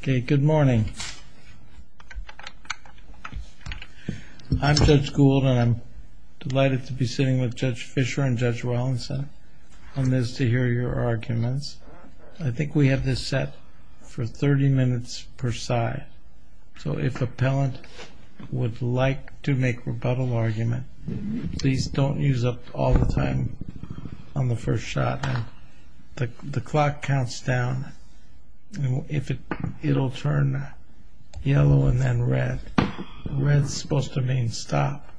Okay, good morning. I'm Judge Gould and I'm delighted to be sitting with Judge Fisher and Judge Wallinson on this to hear your arguments. I think we have this set for 30 minutes per side, so if appellant would like to make rebuttal argument, please don't use up all the time on the first shot. The clock counts down and if it'll turn yellow and then red. Red is supposed to mean stop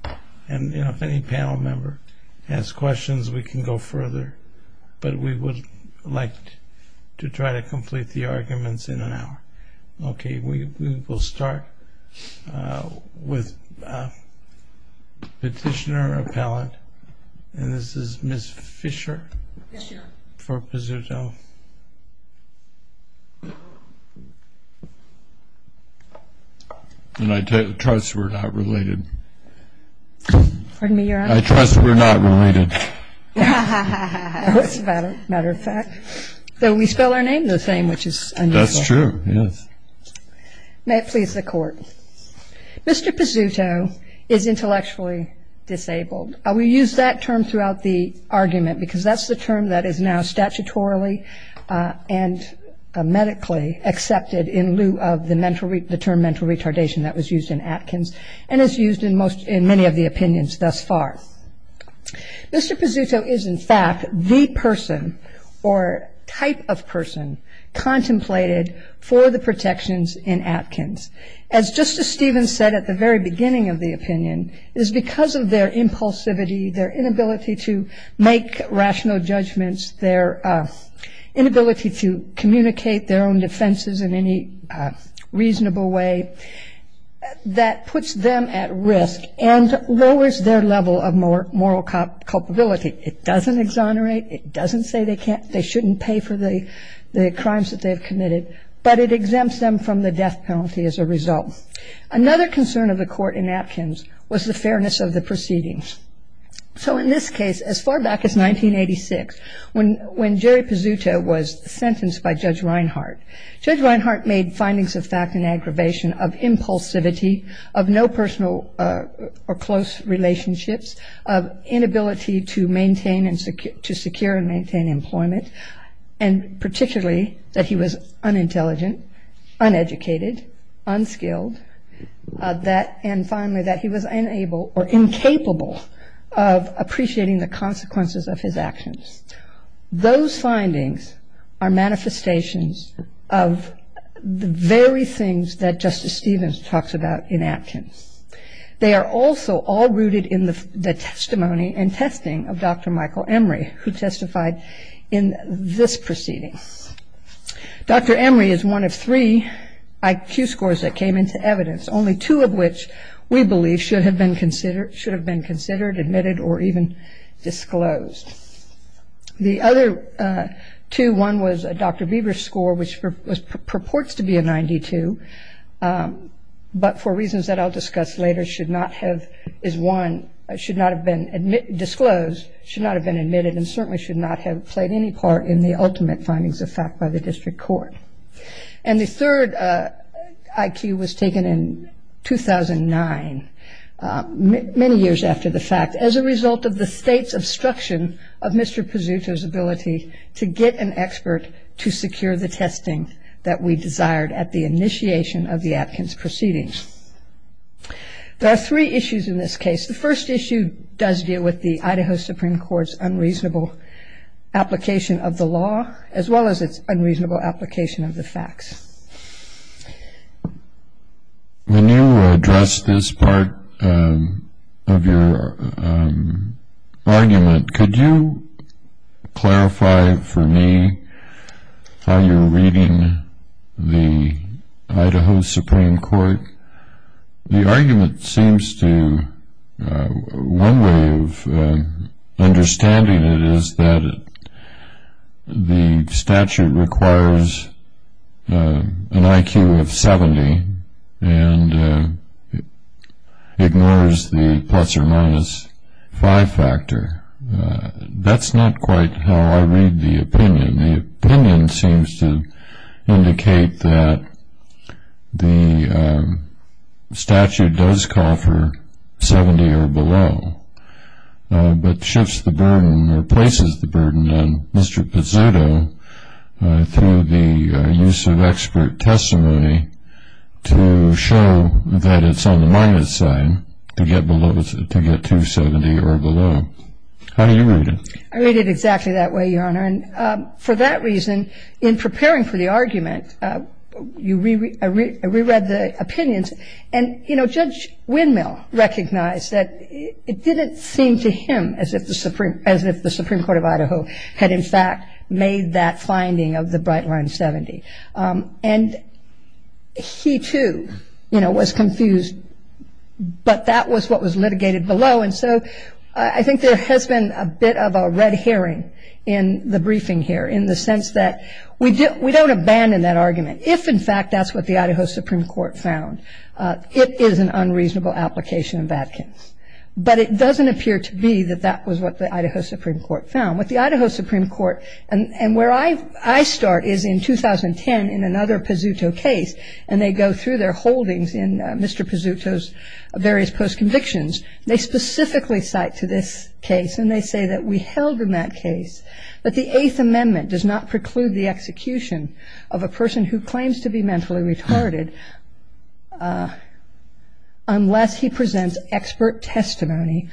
and if any panel member has questions we can go further, but we would like to try to complete the arguments in an hour. Okay, we will start with petitioner appellant and this is Ms. Fisher for Pizzuto. And I trust we're not related. Pardon me, Your Honor? I trust we're not related. As a matter of fact, though we spell our name the same, which is unusual. That's true, yes. May it please the court. Mr. Pizzuto is we use that term throughout the argument because that's the term that is now statutorily and medically accepted in lieu of the term mental retardation that was used in Atkins and is used in many of the opinions thus far. Mr. Pizzuto is in fact the person or type of person contemplated for the protections in Atkins. As Justice Stevens said at the very beginning of the opinion, is because of their impulsivity, their inability to make rational judgments, their inability to communicate their own defenses in any reasonable way, that puts them at risk and lowers their level of moral culpability. It doesn't exonerate, it doesn't say they shouldn't pay for the crimes that they've committed, but it exempts them from the death penalty as a result. Another concern of the court in Atkins was the fairness of the proceedings. So in this case, as far back as 1986, when Jerry Pizzuto was sentenced by Judge Reinhart, Judge Reinhart made findings of fact and aggravation of impulsivity, of no personal or close relationships, of inability to maintain and to secure and maintain employment, and particularly that he was unintelligent, uneducated, unskilled, and finally that he was unable or incapable of appreciating the consequences of his actions. Those findings are manifestations of the very things that Justice Stevens talks about in Atkins. They are also all rooted in the testimony and testified in this proceeding. Dr. Emory is one of three IQ scores that came into evidence, only two of which we believe should have been considered, admitted, or even disclosed. The other two, one was a Dr. Bieber score, which purports to be a 92, but for reasons that I'll discuss later, should not have been disclosed, should not have been admitted, and certainly should not have played any part in the ultimate findings of fact by the district court. And the third IQ was taken in 2009, many years after the fact, as a result of the state's obstruction of Mr. Pizzuto's ability to get an expert to secure the testing that we desired at the initiation of the Atkins proceedings. There are three issues in this case. The first issue does deal with the Idaho Supreme Court's unreasonable application of the law, as well as its unreasonable application of the facts. When you address this part of your argument, could you clarify for me how you're reading the Idaho Supreme Court? The argument seems to, one way of understanding it is that the statute requires an IQ of 70 and ignores the plus or minus 5 factor. That's not quite how I read the opinion. The opinion seems to indicate that the statute does call for 70 or below, but shifts the burden or places the burden on Mr. Pizzuto through the use of expert testimony to show that it's on the minus side to get below, to get 270 or below. How do you read it? I read it exactly that way, Your Honor. And for that reason, in preparing for the argument, you reread the opinions. And, you know, Judge Windmill recognized that it didn't seem to him as if the Supreme Court of Idaho had, in fact, made that finding of the bright line 70. And he, too, you know, was confused. But that was what was litigated below. And so I think there has been a bit of a red herring in the briefing here in the sense that we don't abandon that argument. If, in fact, that's what the Idaho Supreme Court found, it is an unreasonable application of Adkins. But it doesn't appear to be that that was what the Idaho Supreme Court found. What the Idaho Supreme Court, and where I start is in 2010 in another Pizzuto case, and they go through their holdings in Mr. Pizzuto's various post-convictions. They specifically cite to this case, and they say that we held in that case that the Eighth Amendment does not preclude the execution of a person who claims to be mentally retarded unless he presents expert testimony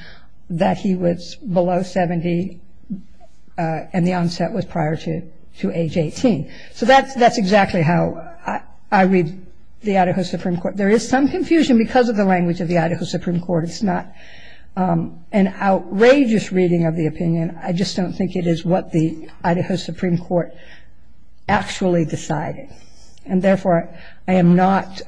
that he was below 70 and the onset was prior to age 18. So that's exactly how I read the Idaho Supreme Court. There is some confusion because of the an outrageous reading of the opinion. I just don't think it is what the Idaho Supreme Court actually decided. And therefore, I am not,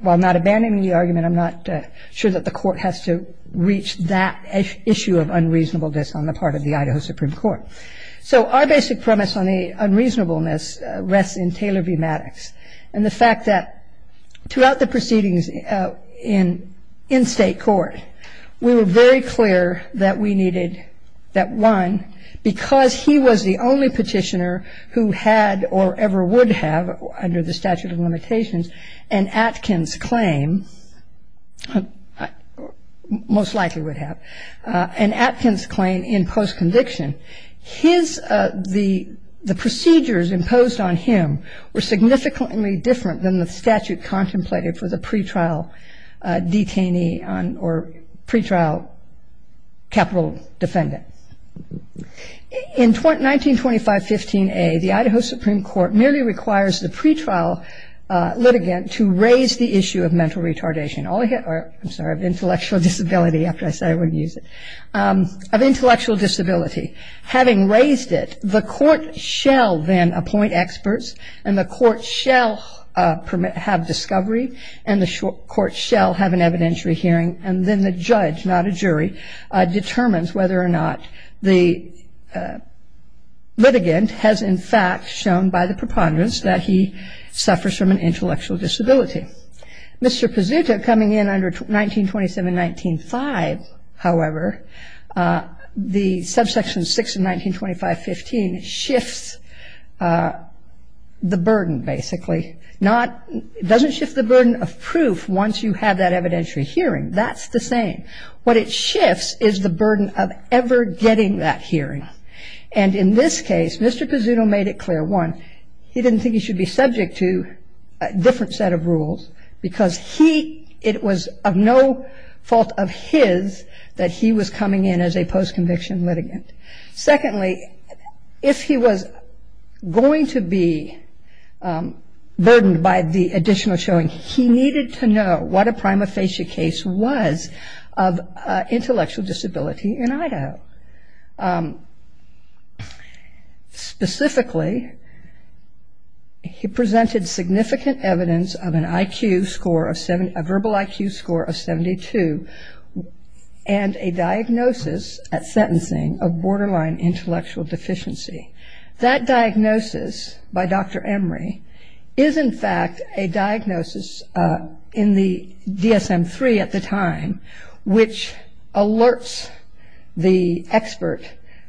while not abandoning the argument, I'm not sure that the court has to reach that issue of unreasonableness on the part of the Idaho Supreme Court. So our basic premise on the unreasonableness rests in Taylor v. Maddox and the fact that throughout the proceedings in state court, we were very clear that we needed that one because he was the only petitioner who had or ever would have under the statute of limitations an Atkins claim, most likely would have, an Atkins claim in post-conviction. His, the procedures imposed on him were significantly different than the statute contemplated for the pretrial detainee or pretrial capital defendant. In 1925-15a, the Idaho Supreme Court merely requires the pretrial litigant to raise the issue of mental having raised it, the court shall then appoint experts and the court shall have discovery and the court shall have an evidentiary hearing and then the judge, not a jury, determines whether or not the litigant has in fact shown by the preponderance that he suffers from an intellectual disability. Mr. Pizzuto coming in under 1927-195, however, the subsection 6 of 1925-15 shifts the burden basically. Not, it doesn't shift the burden of proof once you have that evidentiary hearing. That's the same. What it shifts is the burden of ever getting that hearing. And in this case, Mr. Pizzuto made it clear, one, he didn't think he should be subject to different set of rules because he, it was of no fault of his that he was coming in as a post-conviction litigant. Secondly, if he was going to be burdened by the additional showing, he needed to know what a prima facie case was of intellectual disability in Idaho. Specifically, he presented significant evidence of an IQ score of 70, a verbal IQ score of 72 and a diagnosis at sentencing of borderline intellectual deficiency. That diagnosis by the expert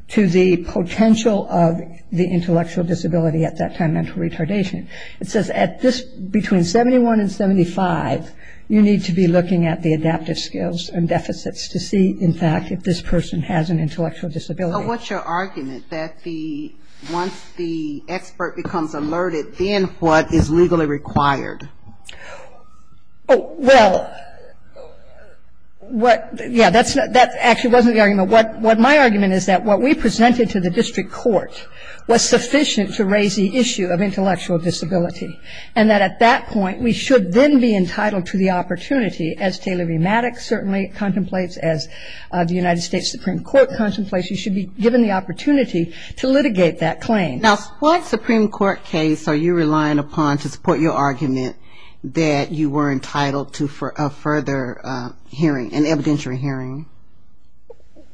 to the potential of the intellectual disability at that time, mental retardation. It says at this, between 71 and 75, you need to be looking at the adaptive skills and deficits to see in fact if this person has an intellectual disability. But what's your argument that the, once the expert becomes alerted, then what is legally required? Well, what, yeah, that's not, that actually wasn't the argument. What my argument is that what we presented to the district court was sufficient to raise the issue of intellectual disability. And that at that point, we should then be entitled to the opportunity, as Taylor Remadix certainly contemplates, as the United States Supreme Court contemplates, you should be given the opportunity to litigate that claim. Now, what Supreme Court case are you relying upon to support your argument that you were entitled to a further hearing, an evidentiary hearing?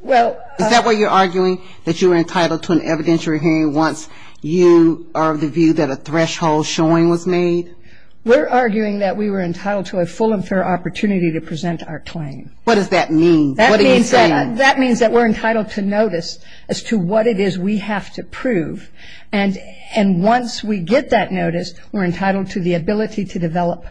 Well... Is that what you're arguing? That you were entitled to an evidentiary hearing once you are of the view that a threshold showing was made? We're arguing that we were entitled to a full and fair opportunity to present our claim. What does that mean? What are you saying? That means that we're entitled to notice as to what it is we have to prove. And once we get that notice, we're entitled to the ability to develop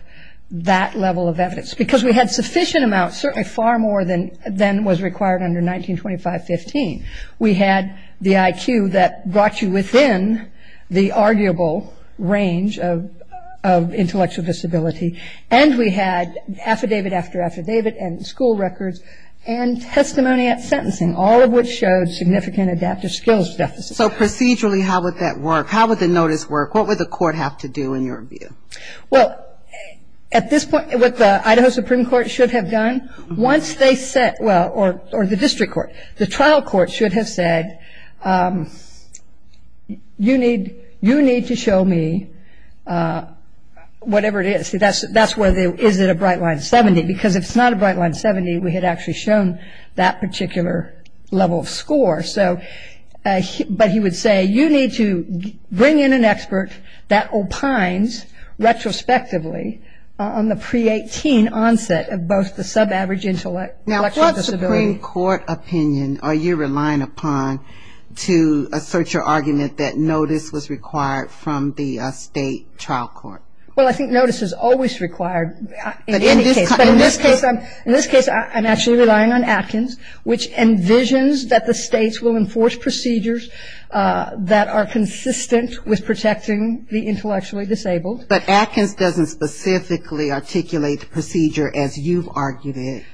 that level of evidence. Because we had sufficient amounts, certainly far more than was required under 1925-15. We had the IQ that brought you within the arguable range of intellectual disability. And we had affidavit after affidavit and school records and testimony at sentencing, all of which showed significant adaptive skills deficits. So procedurally, how would that work? How would the notice work? What would the court have to do in your view? Well, at this point, what the Idaho Supreme Court should have done, once they said, well, or the district court, the trial court should have said, you need to show me whatever it is. That's where the, is it a bright line 70? Because if it's not a bright line 70, we had actually shown that particular level of score. So, but he would say, you need to bring in an expert that opines retrospectively on the pre-18 onset of both the sub-average intellectual disability. Now, what Supreme Court opinion are you relying upon to assert your argument that notice was required from the state trial court? Well, I think notice is always required in any case. But in this case, I'm actually relying on Atkins, which envisions that the states will enforce procedures that are consistent with protecting the intellectually disabled. But Atkins doesn't specifically articulate the procedure as you've argued it.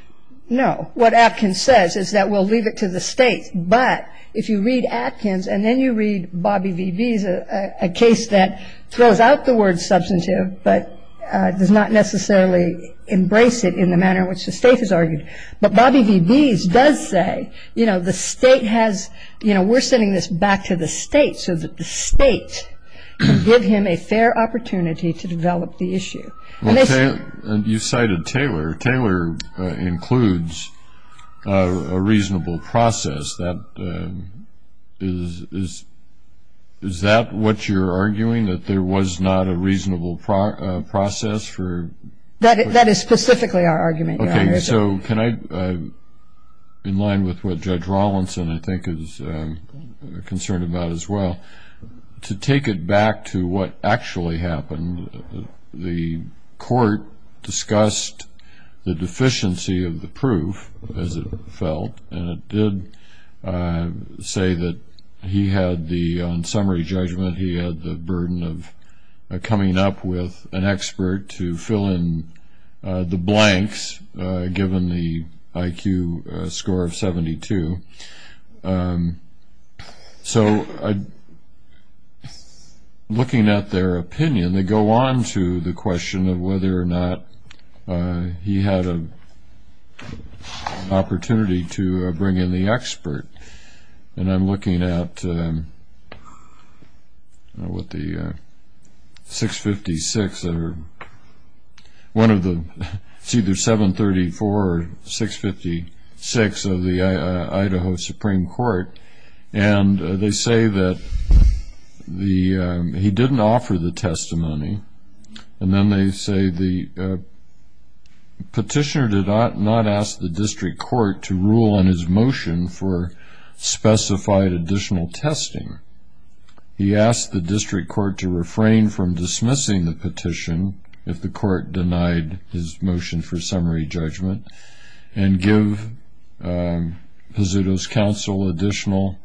No. What Atkins says is that we'll leave it to the states. But if you read Atkins and then you read Bobby V. Bees, a case that throws out the word substantive, but does not necessarily embrace it in the manner in which the state has argued. But Bobby V. Bees does say, you know, the state has, you know, we're sending this back to the state so that the state can give him a fair opportunity to develop the issue. Well, you cited Taylor. Taylor includes a reasonable process. Is that what you're arguing, that there was not a reasonable process for? That is specifically our argument, Your Honor. So can I, in line with what Judge Rawlinson, I think, is concerned about as well, to take it back to what actually happened. The court discussed the deficiency of the proof, as it felt. And it did say that he had the, on summary judgment, he had the burden of coming up with an expert to fill in the blanks given the IQ score of 72. So looking at their opinion, they go on to the question of whether or not he had an opportunity to bring in the expert. And I'm looking at, what, the 656, one of the, it's either 734 or 656 of the Idaho Supreme Court. And they say that he didn't offer the testimony. And then they say the petitioner did not ask the district court to rule on his motion for specified additional testing. He asked the district court to refrain from dismissing the petition, if the court denied his motion for summary judgment, and give Pezzuto's counsel additional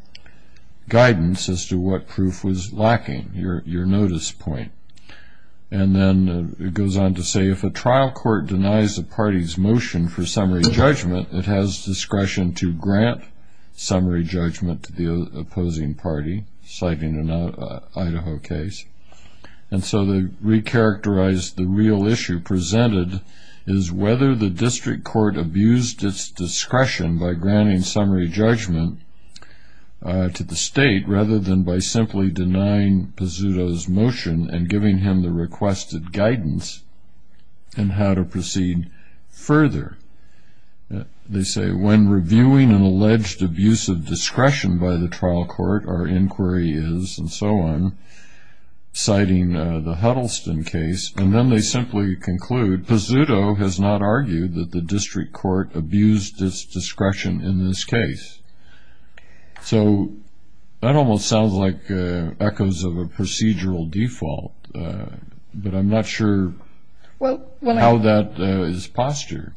guidance as to what proof was lacking, your notice point. And then it goes on to say, if a trial court denies the party's motion for summary judgment, it has discretion to grant summary judgment to the opposing party, citing an Idaho case. And so they recharacterized the real issue presented is whether the district court abused its discretion by granting summary judgment to the state, rather than by simply denying Pezzuto's motion and giving him the requested guidance in how to proceed further. They say, when reviewing an alleged abuse of discretion by the trial court, our inquiry is, and so on, citing the Huddleston case. And then they simply conclude Pezzuto has not argued that the district court abused its discretion in this case. So that almost sounds like echoes of a procedural default, but I'm not sure how that is postured.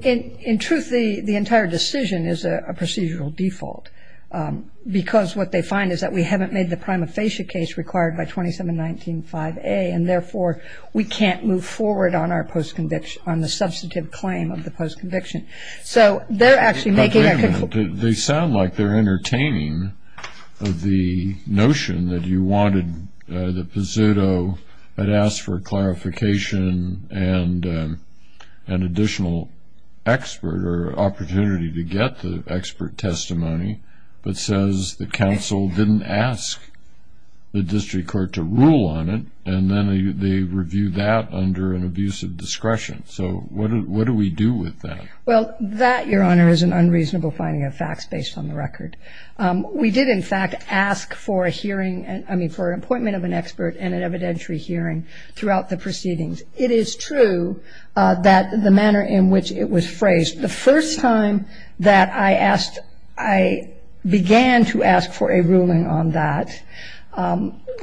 In truth, the entire decision is a procedural default, because what they find is that we haven't made the prima facie case required by 2719-5A, and therefore, we can't move forward on the substantive claim of the post-conviction. So they're actually making that conclusion. They sound like they're entertaining the notion that you wanted the Pezzuto, but asked for clarification and an additional expert or opportunity to get the expert testimony, but says the counsel didn't ask the district court to rule on it, and then they review that under an abuse of discretion. So what do we do with that? Well, that, Your Honor, is an unreasonable finding of facts based on the record. We did, in fact, ask for a hearing, I mean, for an appointment of an expert and an evidentiary hearing throughout the proceedings. It is true that the manner in which it was phrased, the first time that I asked, I began to ask for a ruling on that,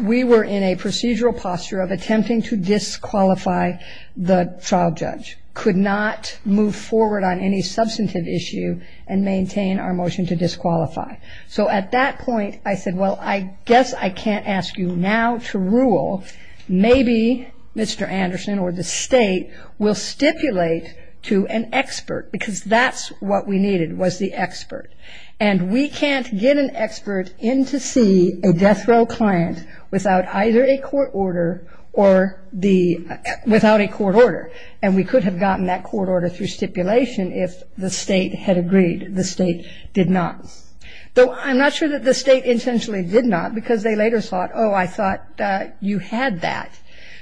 we were in a procedural posture of attempting to disqualify the trial judge, could not move forward on any substantive issue and maintain our motion to disqualify. So at that point, I said, well, I guess I can't ask you now to rule. Maybe Mr. to an expert, because that's what we needed, was the expert. And we can't get an expert in to see a death row client without either a court order or the, without a court order. And we could have gotten that court order through stipulation if the State had agreed. The State did not. Though I'm not sure that the State intentionally did not, because they later thought, oh, I thought you had that.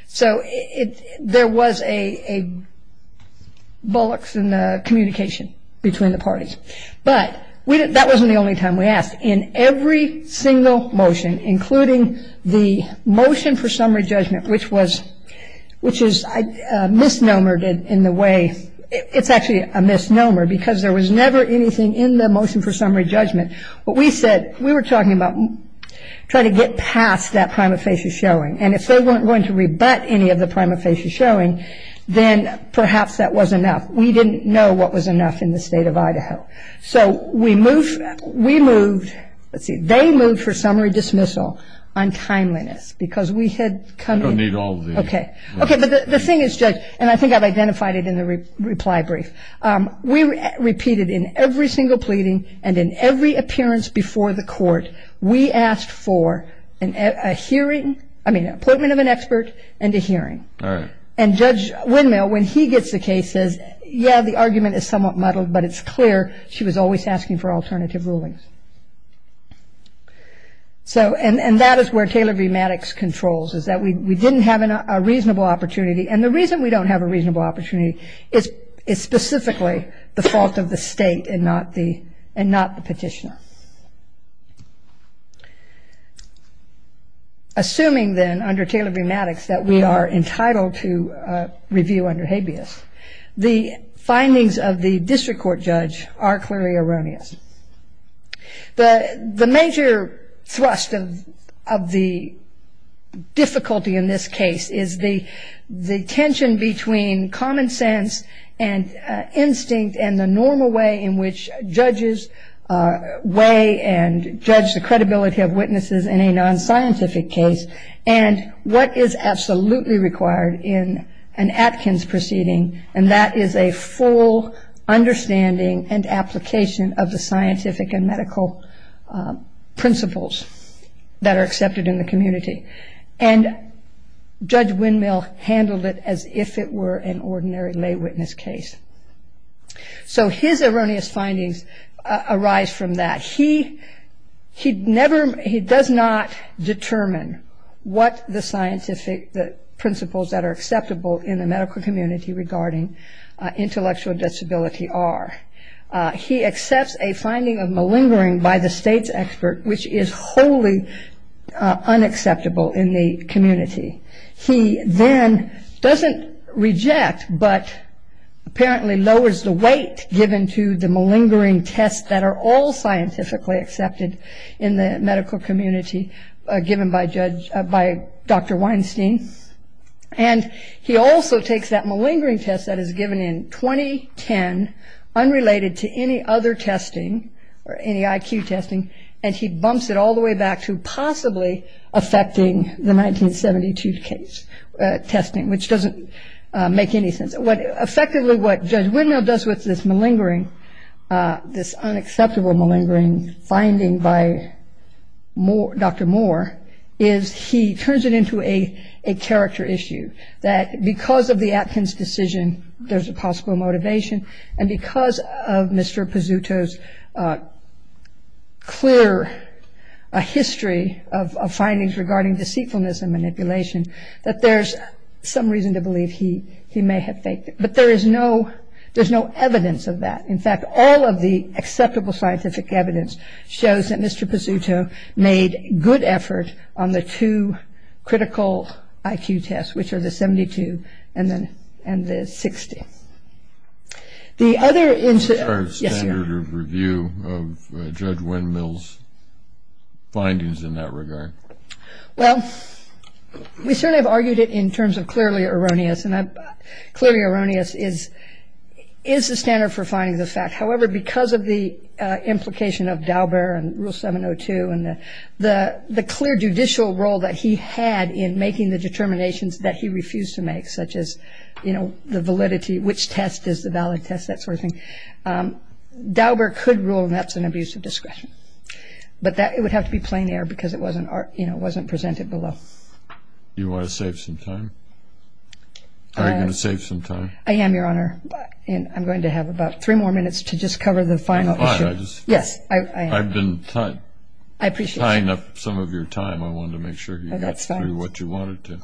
So there was a bullox in the communication between the parties. But that wasn't the only time we asked. In every single motion, including the motion for summary judgment, which was, which is misnomered in the way, it's actually a misnomer, because there was never anything in the motion for summary judgment. But we said, we were talking about trying to get past that prima facie showing. And if they weren't going to rebut any of the prima facie showing, then perhaps that was enough. We didn't know what was enough in the State of Idaho. So we moved, we moved, let's see, they moved for summary dismissal on timeliness, because we had come in. I don't need all of these. Okay. Okay. But the thing is, Judge, and I think I've identified it in the reply brief. We repeated in every single pleading and in every appearance before the court, we asked for a hearing, I mean, appointment of an expert and a hearing. And Judge Windmill, when he gets the case, says, yeah, the argument is somewhat muddled, but it's clear she was always asking for alternative rulings. So, and that is where Taylor v. Maddox controls, is that we didn't have a reasonable opportunity. And the reason we don't have a reasonable opportunity is specifically the fault of the state and not the petitioner. Assuming then, under Taylor v. Maddox, that we are entitled to review under habeas, the findings of the district court judge are clearly erroneous. The major thrust of the difficulty in this case is the tension between common sense and instinct and the normal way in which judges weigh and judge the credibility of witnesses in a non-scientific case and what is absolutely required in an Atkins proceeding, and that is a full understanding and application of scientific and medical principles that are accepted in the community. And Judge Windmill handled it as if it were an ordinary lay witness case. So his erroneous findings arise from that. He does not determine what the scientific principles that are acceptable in the medical community regarding intellectual disability are. He accepts a finding of malingering by the state's expert, which is wholly unacceptable in the community. He then doesn't reject, but apparently lowers the weight given to the malingering tests that are all scientifically accepted in the medical community given by Dr. Weinstein. And he also takes that malingering test that is given in 2010, unrelated to any other testing or any IQ testing, and he bumps it all the way back to possibly affecting the 1972 testing, which doesn't make any sense. Effectively, what Judge Windmill does with this unacceptable malingering finding by Dr. Moore is he turns it into a character issue, that because of the Atkins decision, there's a possible motivation, and because of Mr. Pizzuto's clear history of findings regarding deceitfulness and manipulation, that there's some reason to have evidence of that. In fact, all of the acceptable scientific evidence shows that Mr. Pizzuto made good effort on the two critical IQ tests, which are the 72 and the 60. The other incident- What's our standard of review of Judge Windmill's findings in that regard? Well, we certainly have argued it in terms of clearly erroneous, and clearly erroneous is is the standard for finding the fact. However, because of the implication of Daubert and Rule 702 and the clear judicial role that he had in making the determinations that he refused to make, such as, you know, the validity, which test is the valid test, that sort of thing, Daubert could rule and that's an abuse of discretion. But it would have to be plain air because it wasn't presented below. You want to save some time? Are you going to save some time? I am, Your Honor, and I'm going to have about three more minutes to just cover the final issue. Yes, I've been tying up some of your time. I wanted to make sure you got through what you wanted to.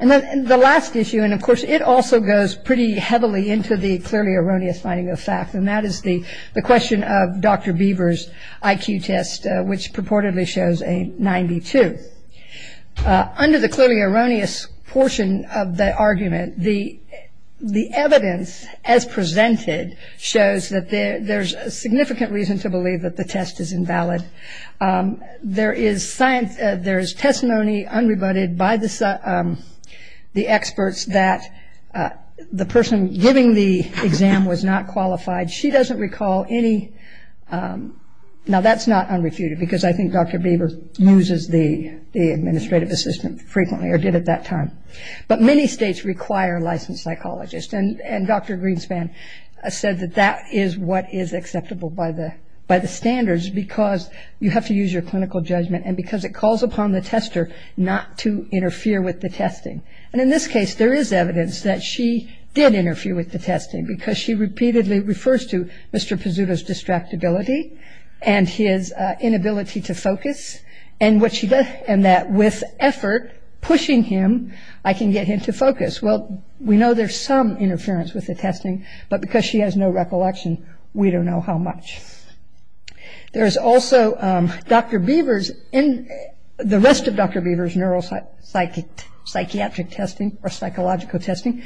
And then the last issue, and of course it also goes pretty heavily into the clearly erroneous finding of fact, and that is the question of Dr. Beaver's IQ test, which purportedly shows a 92. Under the clearly erroneous portion of the argument, the evidence as presented shows that there's a significant reason to believe that the test is invalid. There is testimony unrebutted by the experts that the person giving the exam was not qualified. She doesn't recall any, now that's not unrefuted because I think Dr. Beaver loses the administrative assistant frequently, or did at that time. But many states require licensed psychologists, and Dr. Greenspan said that that is what is acceptable by the standards because you have to use your clinical judgment and because it calls upon the tester not to interfere with the testing. And in this case, there is evidence that she did interfere with the testing because she repeatedly refers to Mr. Pizzuto's distractibility and his inability to focus, and that with effort pushing him, I can get him to focus. Well, we know there's some interference with the testing, but because she has no recollection, we don't know how much. There is also Dr. Beaver's, the rest of Dr. Beaver's neuropsychiatric testing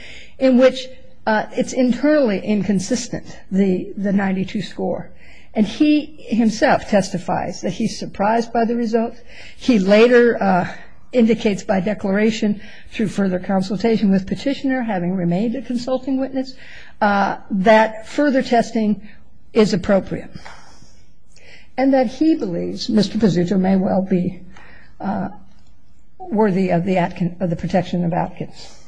or it's internally inconsistent, the 92 score. And he himself testifies that he's surprised by the results. He later indicates by declaration through further consultation with petitioner, having remained a consulting witness, that further testing is appropriate. And that he believes Mr. Pizzuto may well be worthy of the protection of Atkins.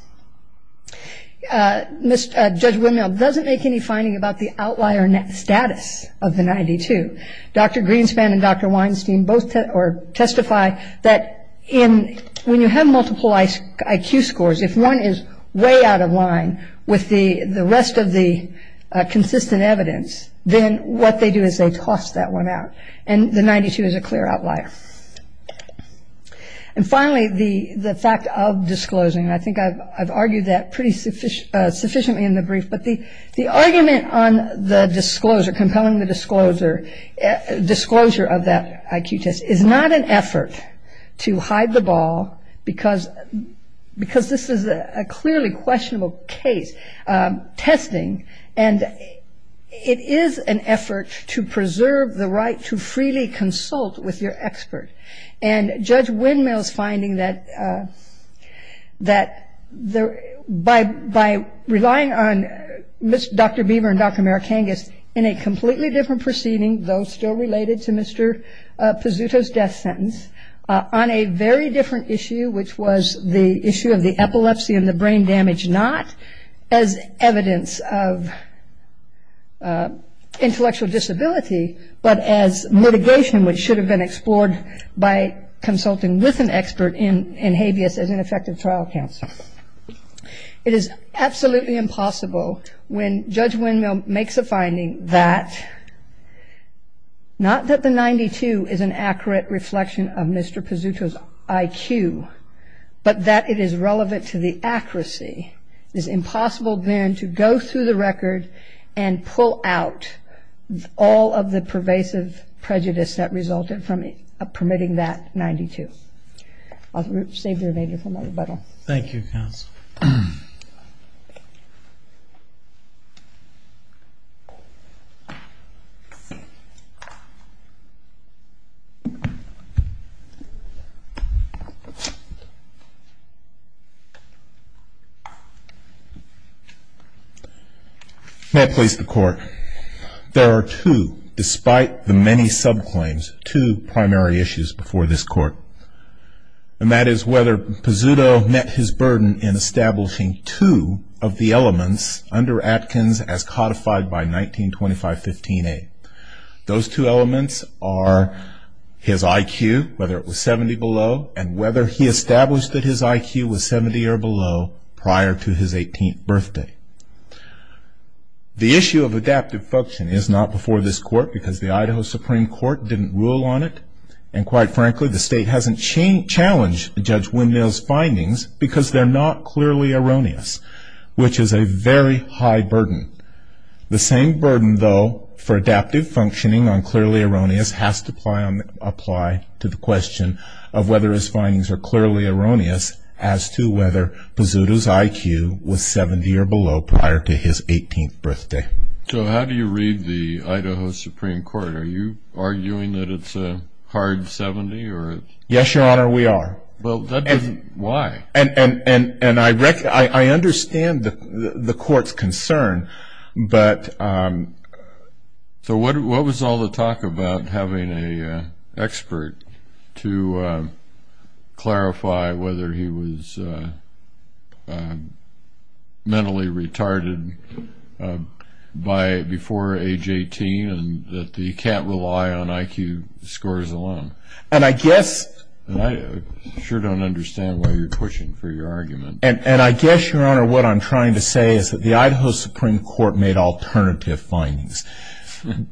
Judge Windmill doesn't make any finding about the outlier status of the 92. Dr. Greenspan and Dr. Weinstein both testify that when you have multiple IQ scores, if one is way out of line with the rest of the consistent evidence, then what they do is they toss that one out. And the 92 is a clear outlier. And finally, the fact of disclosing, I think I've argued that pretty sufficiently in the brief, but the argument on the disclosure, compelling the disclosure, disclosure of that IQ test is not an effort to hide the ball because this is a clearly questionable case testing. And it is an effort to preserve the right to freely consult with your expert. And Judge Windmill's finding that by relying on Dr. Beaver and Dr. Marikangas in a completely different proceeding, though still related to Mr. Pizzuto's death sentence, on a very different issue, which was the issue of the epilepsy and the brain damage, not as evidence of intellectual disability, but as mitigation, which should have been explored by consulting with an expert in habeas as an effective trial counsel. It is absolutely impossible when Judge Pizzuto's IQ, but that it is relevant to the accuracy, it is impossible then to go through the record and pull out all of the pervasive prejudice that resulted from permitting that 92. I'll save the remainder for my rebuttal. Thank you, Counsel. May it please the Court. There are two, despite the many subclaims, two primary issues before this Court. And that is whether Pizzuto met his burden in establishing two of the elements under Atkins as codified by 1925-15a. Those two elements are his IQ, whether it was 70 or below, and whether he established that his IQ was 70 or below prior to his 18th birthday. The issue of adaptive function is not before this Court because the Idaho Supreme Court didn't rule on it. And quite frankly, the state hasn't challenged Judge Windmill's findings because they're not clearly erroneous, which is a very high burden. The same burden, though, for adaptive functioning on clearly erroneous has to apply to the question of whether his findings are clearly erroneous as to whether Pizzuto's IQ was 70 or below prior to his 18th birthday. So how do you read the Idaho Supreme Court? Are you arguing that it's a hard 70? Yes, Your Honor, we are. Well, why? And I understand the Court's concern, but... So what was all the talk about having an expert to clarify whether he was mentally retarded before age 18 and that you can't rely on IQ scores alone? And I guess... And I sure don't understand why you're pushing for your argument. And I guess, Your Honor, what I'm trying to say is that the Idaho Supreme Court made alternative findings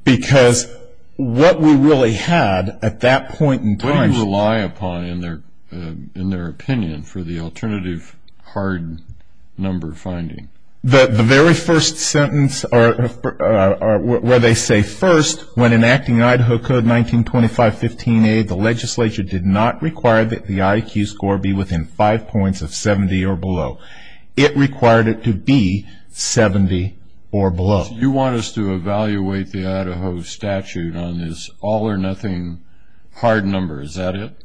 because what we really had at that point in time... The very first sentence where they say, First, when enacting Idaho Code 1925-15a, the legislature did not require that the IQ score be within five points of 70 or below. It required it to be 70 or below. You want us to evaluate the Idaho statute on this all-or-nothing hard number. Is that it?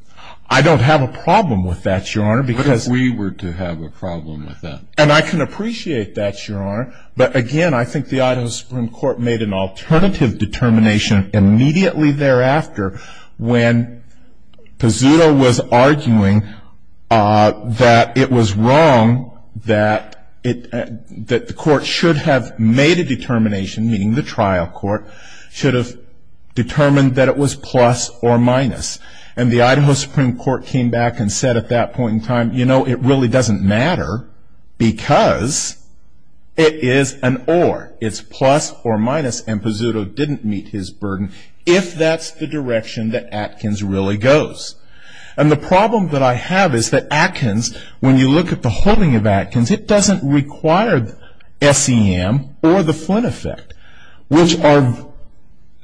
I don't have a problem with that, Your Honor. What if we were to have a problem with that? And I can appreciate that, Your Honor. But again, I think the Idaho Supreme Court made an alternative determination immediately thereafter when Pizzuto was arguing that it was wrong, that the court should have made a determination, meaning the trial court, should have determined that it was plus or minus. And the Idaho Supreme Court came back and said at that point in time, you know, it really doesn't matter because it is an or. It's plus or minus. And Pizzuto didn't meet his burden if that's the direction that Atkins really goes. And the problem that I have is that Atkins, when you look at the holding of Atkins, it doesn't require SEM or the Flynn effect, which are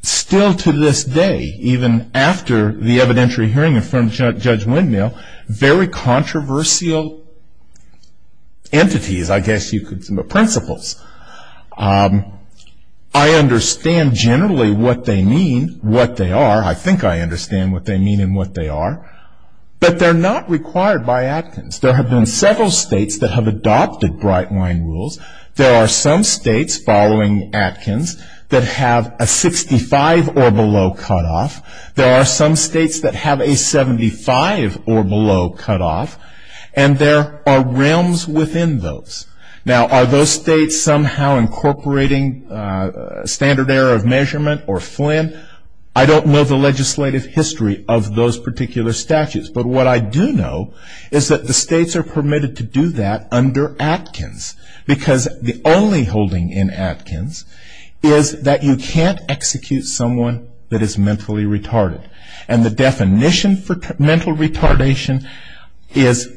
still to this day, even after the evidentiary hearing in front of Judge Windmill, very controversial entities, I guess you could say, but principles. I understand generally what they mean, what they are. I think I understand what they mean and what they are. But they're not required by Atkins. There have been several states that have adopted bright line rules. There are some states following Atkins that have a 65 or below cutoff. There are some states that have a 75 or below cutoff. And there are realms within those. Now, are those states somehow incorporating standard error of measurement or Flynn? I don't know the legislative history of those particular statutes. But what I do know is that the states are permitted to do that under Atkins because the only holding in Atkins is that you can't execute someone that is mentally retarded. And the definition for mental retardation is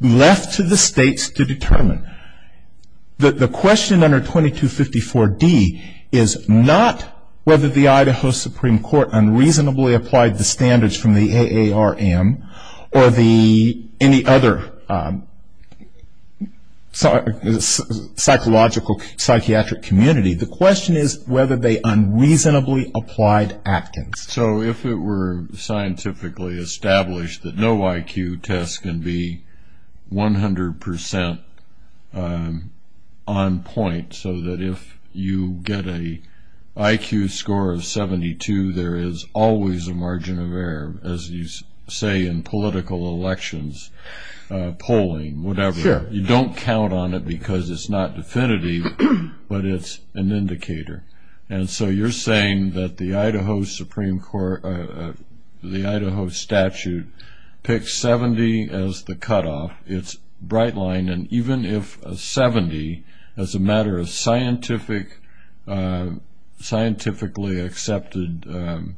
left to the states to determine. The question under 2254 D is not whether the Idaho Supreme Court unreasonably applied the standards from the AARM or any other psychological psychiatric community. The question is whether they unreasonably applied Atkins. So if it were scientifically established that no IQ test can be 100 percent on point so that if you get a IQ score of 72, there is always a margin of error, as you say, in political elections, polling, whatever. You don't count on it because it's not definitive, but it's an indicator. And so you're saying that the Idaho Supreme Court, the Idaho statute picks 70 as the cutoff. It's bright line. And even if a 70 as a matter of scientifically accepted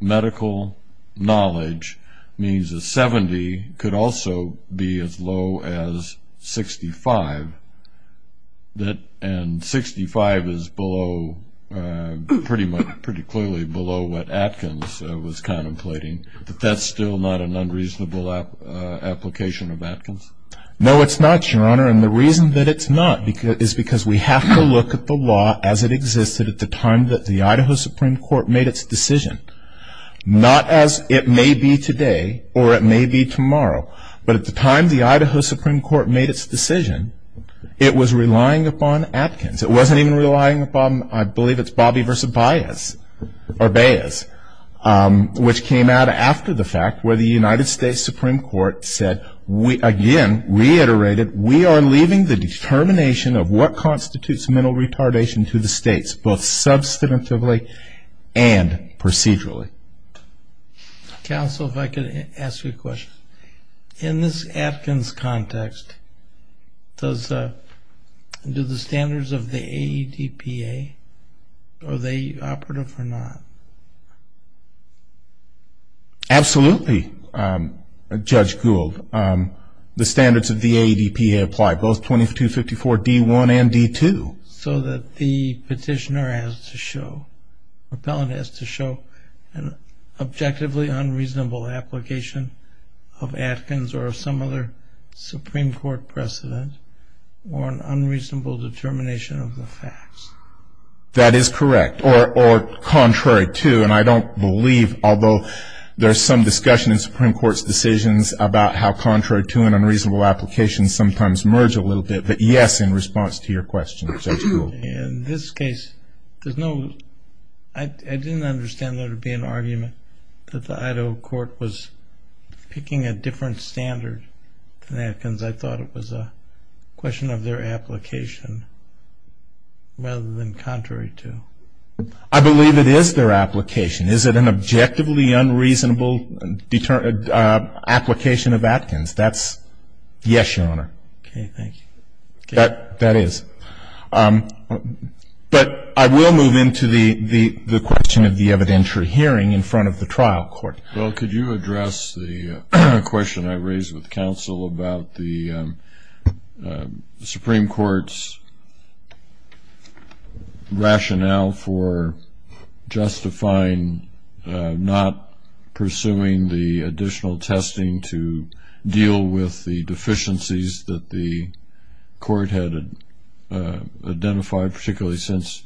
medical knowledge means a 70 could also be as low as 65. And 65 is pretty clearly below what Atkins was contemplating. But that's still not an unreasonable application of Atkins? No, it's not, Your Honor. And the reason that it's not is because we have to look at the law as it existed at the time that the Idaho Supreme Court made its decision. Not as it may be today or it may be tomorrow, but at the time the Idaho Supreme Court made its decision, it was relying upon Atkins. It wasn't even relying upon, I believe it's Bobby v. Baez, which came out after the fact where the United States Supreme Court said, again, reiterated, we are leaving the determination of what constitutes mental retardation to the states, both substantively and procedurally. Counsel, if I could ask you a context, do the standards of the AEDPA, are they operative or not? Absolutely, Judge Gould. The standards of the AEDPA apply both 2254 D1 and D2. So that the petitioner has to show, the appellant has to show an objectively unreasonable application of Atkins or some other Supreme Court precedent or an unreasonable determination of the facts. That is correct, or contrary to, and I don't believe, although there's some discussion in Supreme Court's decisions about how contrary to and unreasonable applications sometimes merge a little bit, but yes, in response to your question, Judge Gould. In this case, there's no, I didn't understand there to be an argument that the Idaho court was picking a different standard than Atkins. I thought it was a question of their application rather than contrary to. I believe it is their application. Is it an objectively unreasonable application of Atkins? That's yes, Your Honor. Okay, thank you. That is. But I will move into the question of the evidentiary hearing in front of the trial court. Well, could you address the question I raised with counsel about the Supreme Court's rationale for justifying not pursuing the additional testing to deal with the deficiencies that the court had identified, particularly since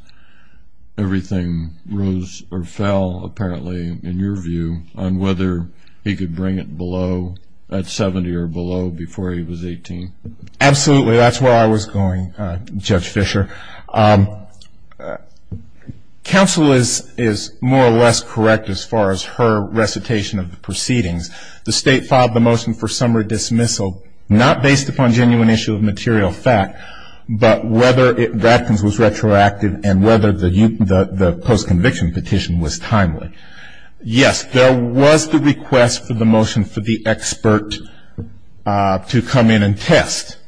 everything rose or fell, apparently, in your view, on whether he could bring it below, at 70 or below, before he was 18? Absolutely, that's where I was going, Judge Fischer. Counsel is more or less correct as far as her recitation of the proceedings. The state filed the motion for summary dismissal, not based upon genuine issue of material fact, but whether Atkins was retroactive and whether the post-conviction petition was timely. Yes, there was the request for the motion for the expert to come in and test.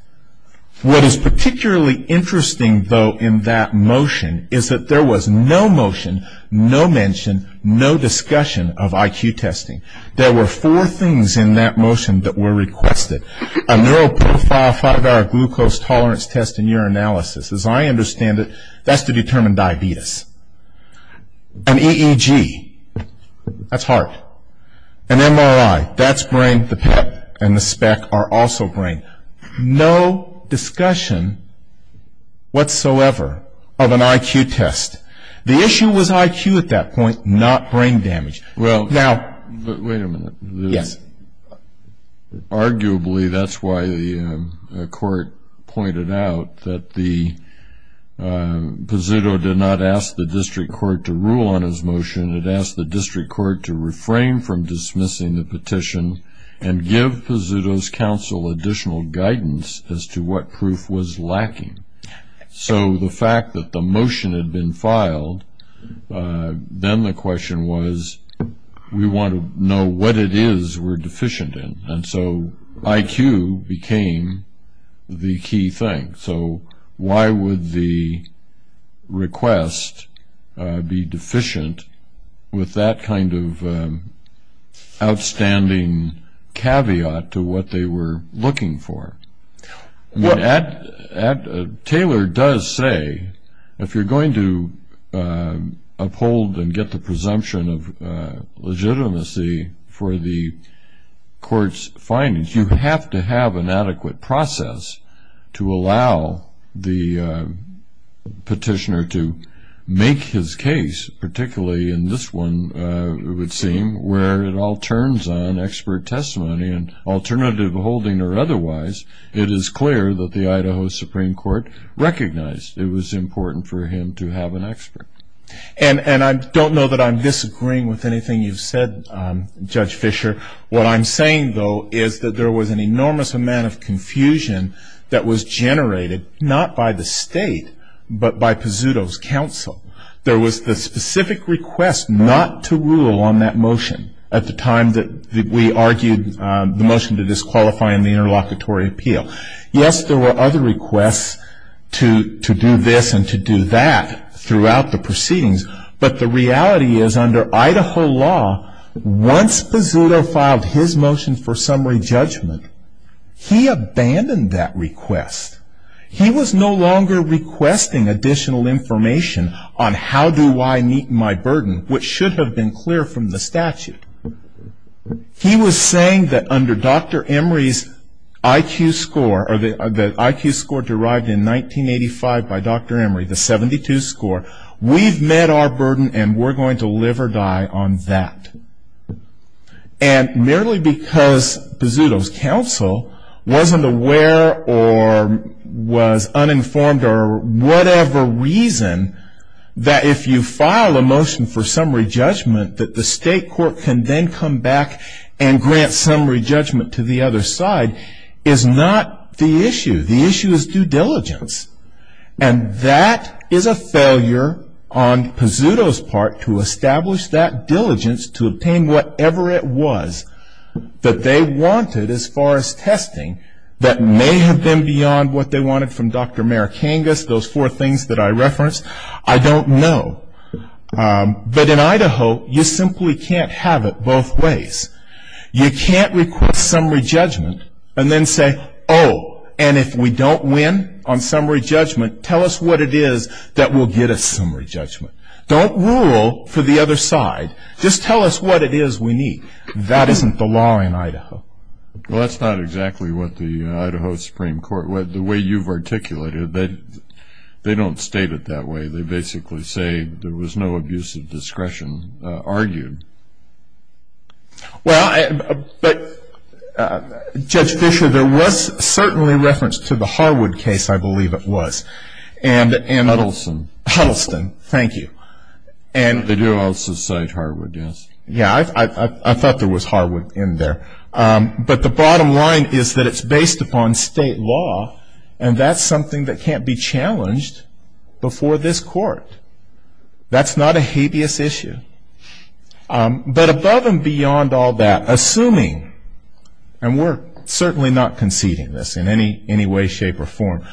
What is particularly interesting, though, in that motion is that there was no motion, no mention, no discussion of IQ testing. There were four things in that motion that were requested. A neuroprofile five-hour glucose tolerance test and urinalysis. As I understand it, that's to determine diabetes. An EEG, that's heart. An MRI, that's brain. The PEP and the SPEC are also brain. No discussion whatsoever of an IQ test. The issue was IQ at that point, not brain damage. Well, wait a minute. Arguably, that's why the court pointed out that Pizzuto did not ask the district court to rule on his motion. It asked the district court to refrain from dismissing the petition and give Pizzuto's counsel additional guidance as to what proof was lacking. So the fact that the motion had been filed, then the question was, we want to know what it is we're deficient in. And so IQ became the key thing. So why would the request be deficient with that kind of outstanding caveat to what they were looking for? Taylor does say, if you're going to uphold and get the presumption of legitimacy for the court's findings, you have to have an adequate process to allow the petitioner to make his case, particularly in this one, it would seem, where it all turns on expert testimony and alternative holding or otherwise. It is clear that the Idaho Supreme Court recognized it was important for him to have an expert. And I don't know that I'm disagreeing with anything you've said, Judge Fisher. What I'm saying is that there was an enormous amount of confusion that was generated not by the state, but by Pizzuto's counsel. There was the specific request not to rule on that motion at the time that we argued the motion to disqualify in the interlocutory appeal. Yes, there were other requests to do this and to do that throughout the proceedings, but the reality is under Idaho law, once Pizzuto filed his motion for summary judgment, he abandoned that request. He was no longer requesting additional information on how do I meet my burden, which should have been clear from the statute. He was saying that under Dr. Emory's IQ score, the IQ score derived in 1985 by Dr. Emory, the 72 score, we've met our burden and we're going to live or die on that. And merely because Pizzuto's counsel wasn't aware or was uninformed or whatever reason that if you file a motion for summary judgment that the state court can then come back and grant summary judgment to the other is not the issue. The issue is due diligence. And that is a failure on Pizzuto's part to establish that diligence to obtain whatever it was that they wanted as far as testing that may have been beyond what they wanted from Dr. Marikangas, those four things that I referenced. I don't know. But in and then say, oh, and if we don't win on summary judgment, tell us what it is that will get us summary judgment. Don't rule for the other side. Just tell us what it is we need. That isn't the law in Idaho. Well, that's not exactly what the Idaho Supreme Court, the way you've articulated that they don't state it that way. They basically say there was no abuse of discretion argued. Well, but Judge Fischer, there was certainly reference to the Harwood case, I believe it was. And Huddleston. Huddleston, thank you. And they do also cite Harwood, yes. Yeah, I thought there was Harwood in there. But the bottom line is that it's based upon state law. And that's something that can't be challenged before this court. That's not a habeas issue. I don't know. I don't know but above and beyond all that, assuming, and we're certainly not conceding this in any way, shape, or form,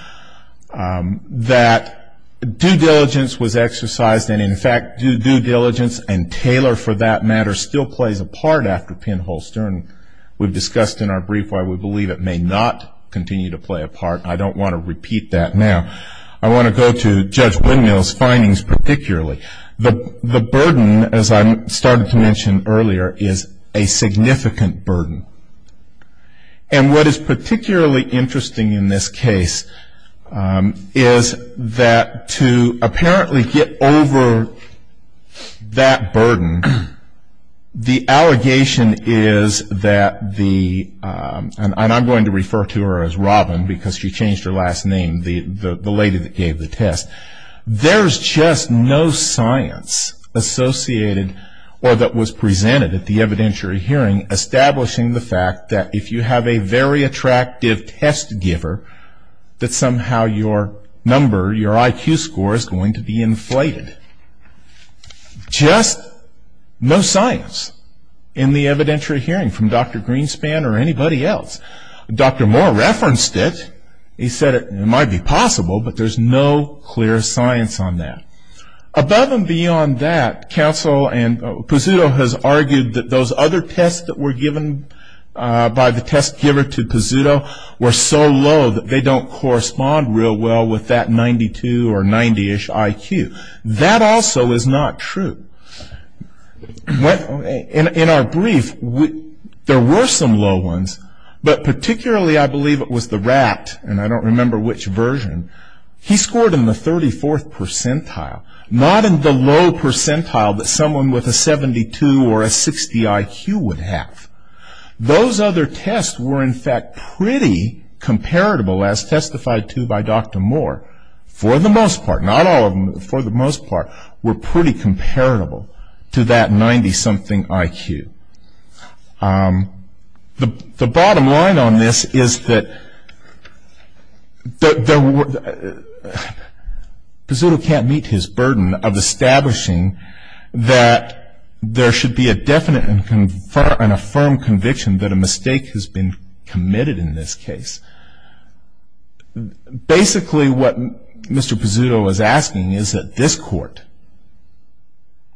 that due diligence was exercised. And in fact, due diligence and tailor for that matter still plays a part after pinhole stern. We've discussed in our brief why we believe it may not continue to play a part. I don't want to repeat that now. I want to go to Judge Windmill's particular. The burden, as I started to mention earlier, is a significant burden. And what is particularly interesting in this case is that to apparently get over that burden, the allegation is that the, and I'm going to refer to her as Robin because she changed her name, the lady that gave the test. There's just no science associated or that was presented at the evidentiary hearing establishing the fact that if you have a very attractive test giver, that somehow your number, your IQ score is going to be inflated. Just no science in the evidentiary hearing from Dr. Greenspan or anybody else. Dr. Moore referenced it. He said it might be possible, but there's no clear science on that. Above and beyond that, counsel and Pizzuto has argued that those other tests that were given by the test giver to Pizzuto were so low that they don't correspond real well with that 92 or 90ish IQ. That also is not true. In our brief, there were some low ones, but particularly I believe it was the RAT, and I don't remember which version, he scored in the 34th percentile, not in the low percentile that someone with a 72 or a 60 IQ would have. Those other tests were in fact pretty comparable as testified to by Dr. Moore for the most part. Not all of them, but for the most part were pretty comparable to that 90 something IQ. The bottom line on this is that Pizzuto can't meet his burden of establishing that there should be a definite and a firm conviction that a mistake has been committed in this case. Basically what Mr. Pizzuto is asking is that this court,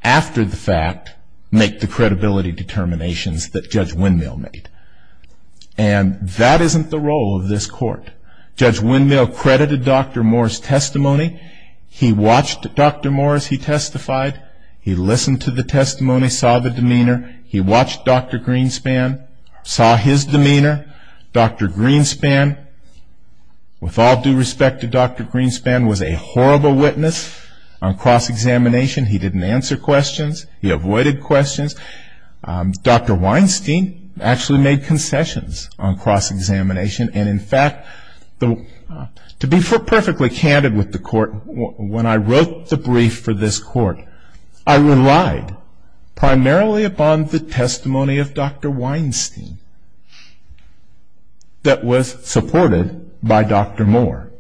after the fact, make the credibility determinations that Judge Windmill made. And that isn't the role of this court. Judge Windmill credited Dr. Moore's testimony. He watched Dr. Moore as he testified. He listened to the testimony, saw the demeanor. He watched Dr. Greenspan, saw his demeanor. Dr. Greenspan, with all due respect to Dr. Greenspan, was a horrible witness on cross-examination. He didn't answer questions. He avoided questions. Dr. Weinstein actually made concessions on cross-examination. And in fact, to be perfectly candid with the court, when I wrote the brief for this court, I relied primarily upon the testimony of Dr. Weinstein that was supported by Dr. Moore.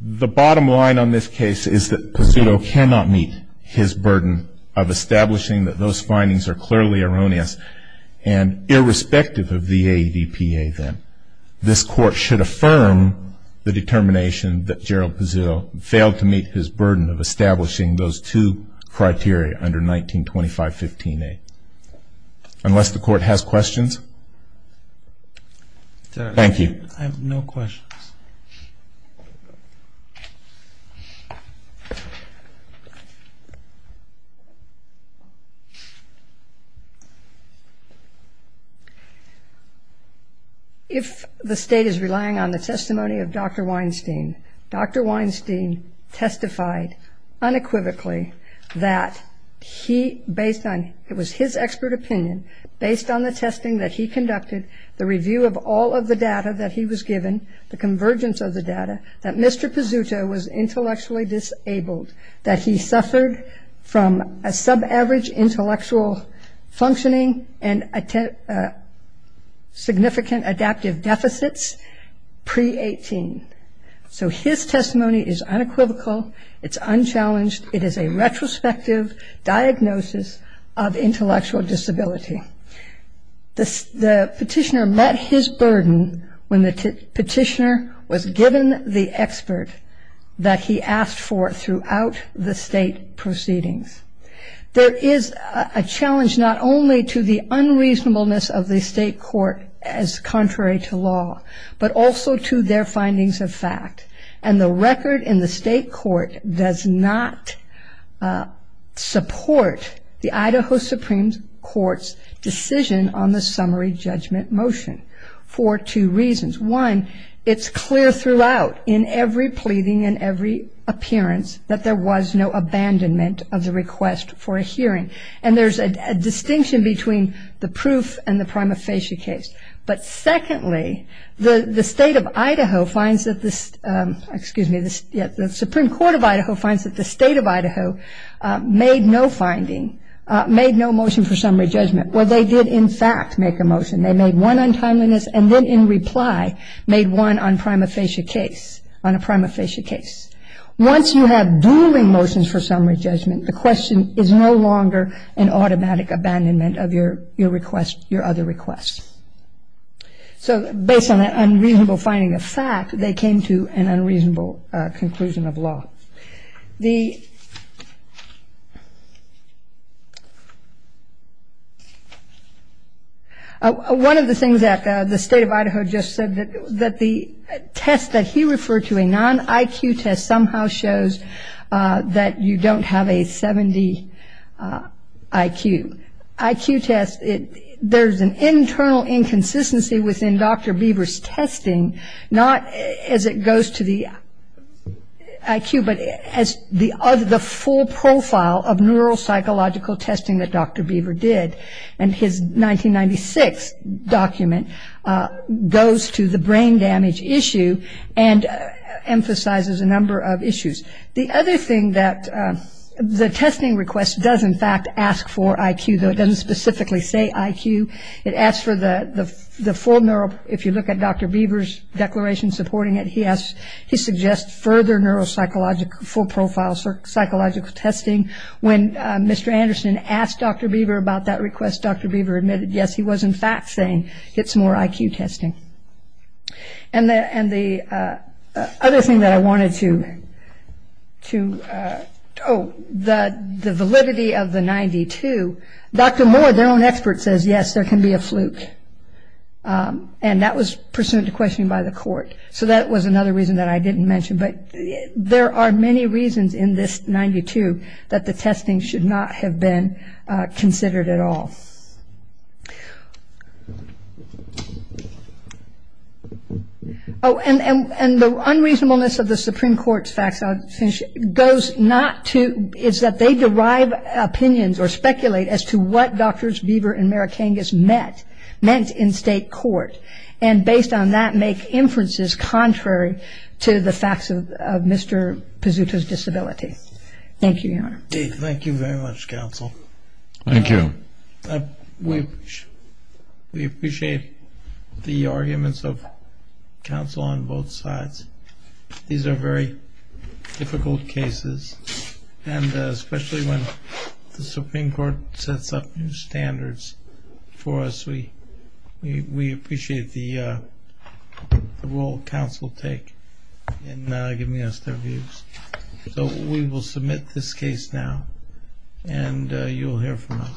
The bottom line on this case is that Pizzuto cannot meet his burden of establishing that those findings are clearly erroneous and irrespective of the AEDPA then. This court should affirm the determination that Gerald Pizzuto failed to meet his burden of establishing those two criteria under 1925-15a. Unless the court has questions? Thank you. I have no questions. If the state is relying on the testimony of Dr. Weinstein, Dr. Weinstein testified unequivocally that he, based on, it was his expert opinion, based on the testing that he conducted, the review of all of the data that he was given, the convergence of the data, that Mr. Pizzuto was intellectually disabled, that he suffered from a sub-average intellectual functioning and significant adaptive deficits pre-18. So his testimony is unequivocal. It's unchallenged. It is a retrospective diagnosis of intellectual disability. The petitioner met his burden when the petitioner was given the expert that he asked for throughout the state proceedings. There is a challenge not only to the unreasonableness of the state court as contrary to law, but also to their findings of fact. And the record in the state court does not support the Idaho Supreme Court's decision on the summary judgment motion for two reasons. One, it's clear throughout in every pleading and every appearance that there was no abandonment of the request for a hearing. And there's a distinction between the proof and the prima facie case. But secondly, the state of Idaho finds that the, excuse me, the Supreme Court of Idaho finds that the state of Idaho made no finding, made no motion for summary judgment. Well, they did in fact make a motion. They made one on timeliness and then in reply made one on prima facie case, on a prima facie case. Once you have booming motions for summary judgment, the question is no longer an automatic abandonment of your request, your other requests. So based on that unreasonable finding of fact, they came to an unreasonable conclusion of law. One of the things that the state of Idaho just said that the test that he referred to, a non-IQ test, somehow shows that you don't have a 70 IQ. IQ test, there's an internal inconsistency within Dr. Beaver's testing, not as it goes to the IQ, but as the full profile of neuropsychological testing that Dr. Beaver did. And his 1996 document goes to the brain damage issue and emphasizes a number of issues. The other thing that the testing request does in fact ask for IQ, though it doesn't specifically say IQ, it asks for the full neuro, if you look at Dr. Beaver's declaration supporting it, he suggests further neuropsychological, full profile psychological testing. When Mr. Anderson asked Dr. Beaver about that request, Dr. Beaver admitted yes, he was in fact saying get some more IQ testing. And the other thing that I wanted to, oh, the validity of the 92, Dr. Moore, their own expert, says yes, there can be a fluke. And that was pursuant to questioning by the court. So that was another reason that I didn't mention. But there are many reasons in this case. Oh, and the unreasonableness of the Supreme Court's facts, I'll finish, goes not to, it's that they derive opinions or speculate as to what Drs. Beaver and Marikangas meant in state court. And based on that, make inferences contrary to the facts of Mr. Pazuta's disability. Thank you, Your Honor. Thank you very much, counsel. Thank you. We appreciate the arguments of counsel on both sides. These are very difficult cases. And especially when the Supreme Court sets up new standards for us, we appreciate the role counsel take in giving us their views. So we will submit this case now. And you'll hear from us.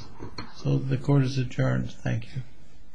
So the court is adjourned. Thank you.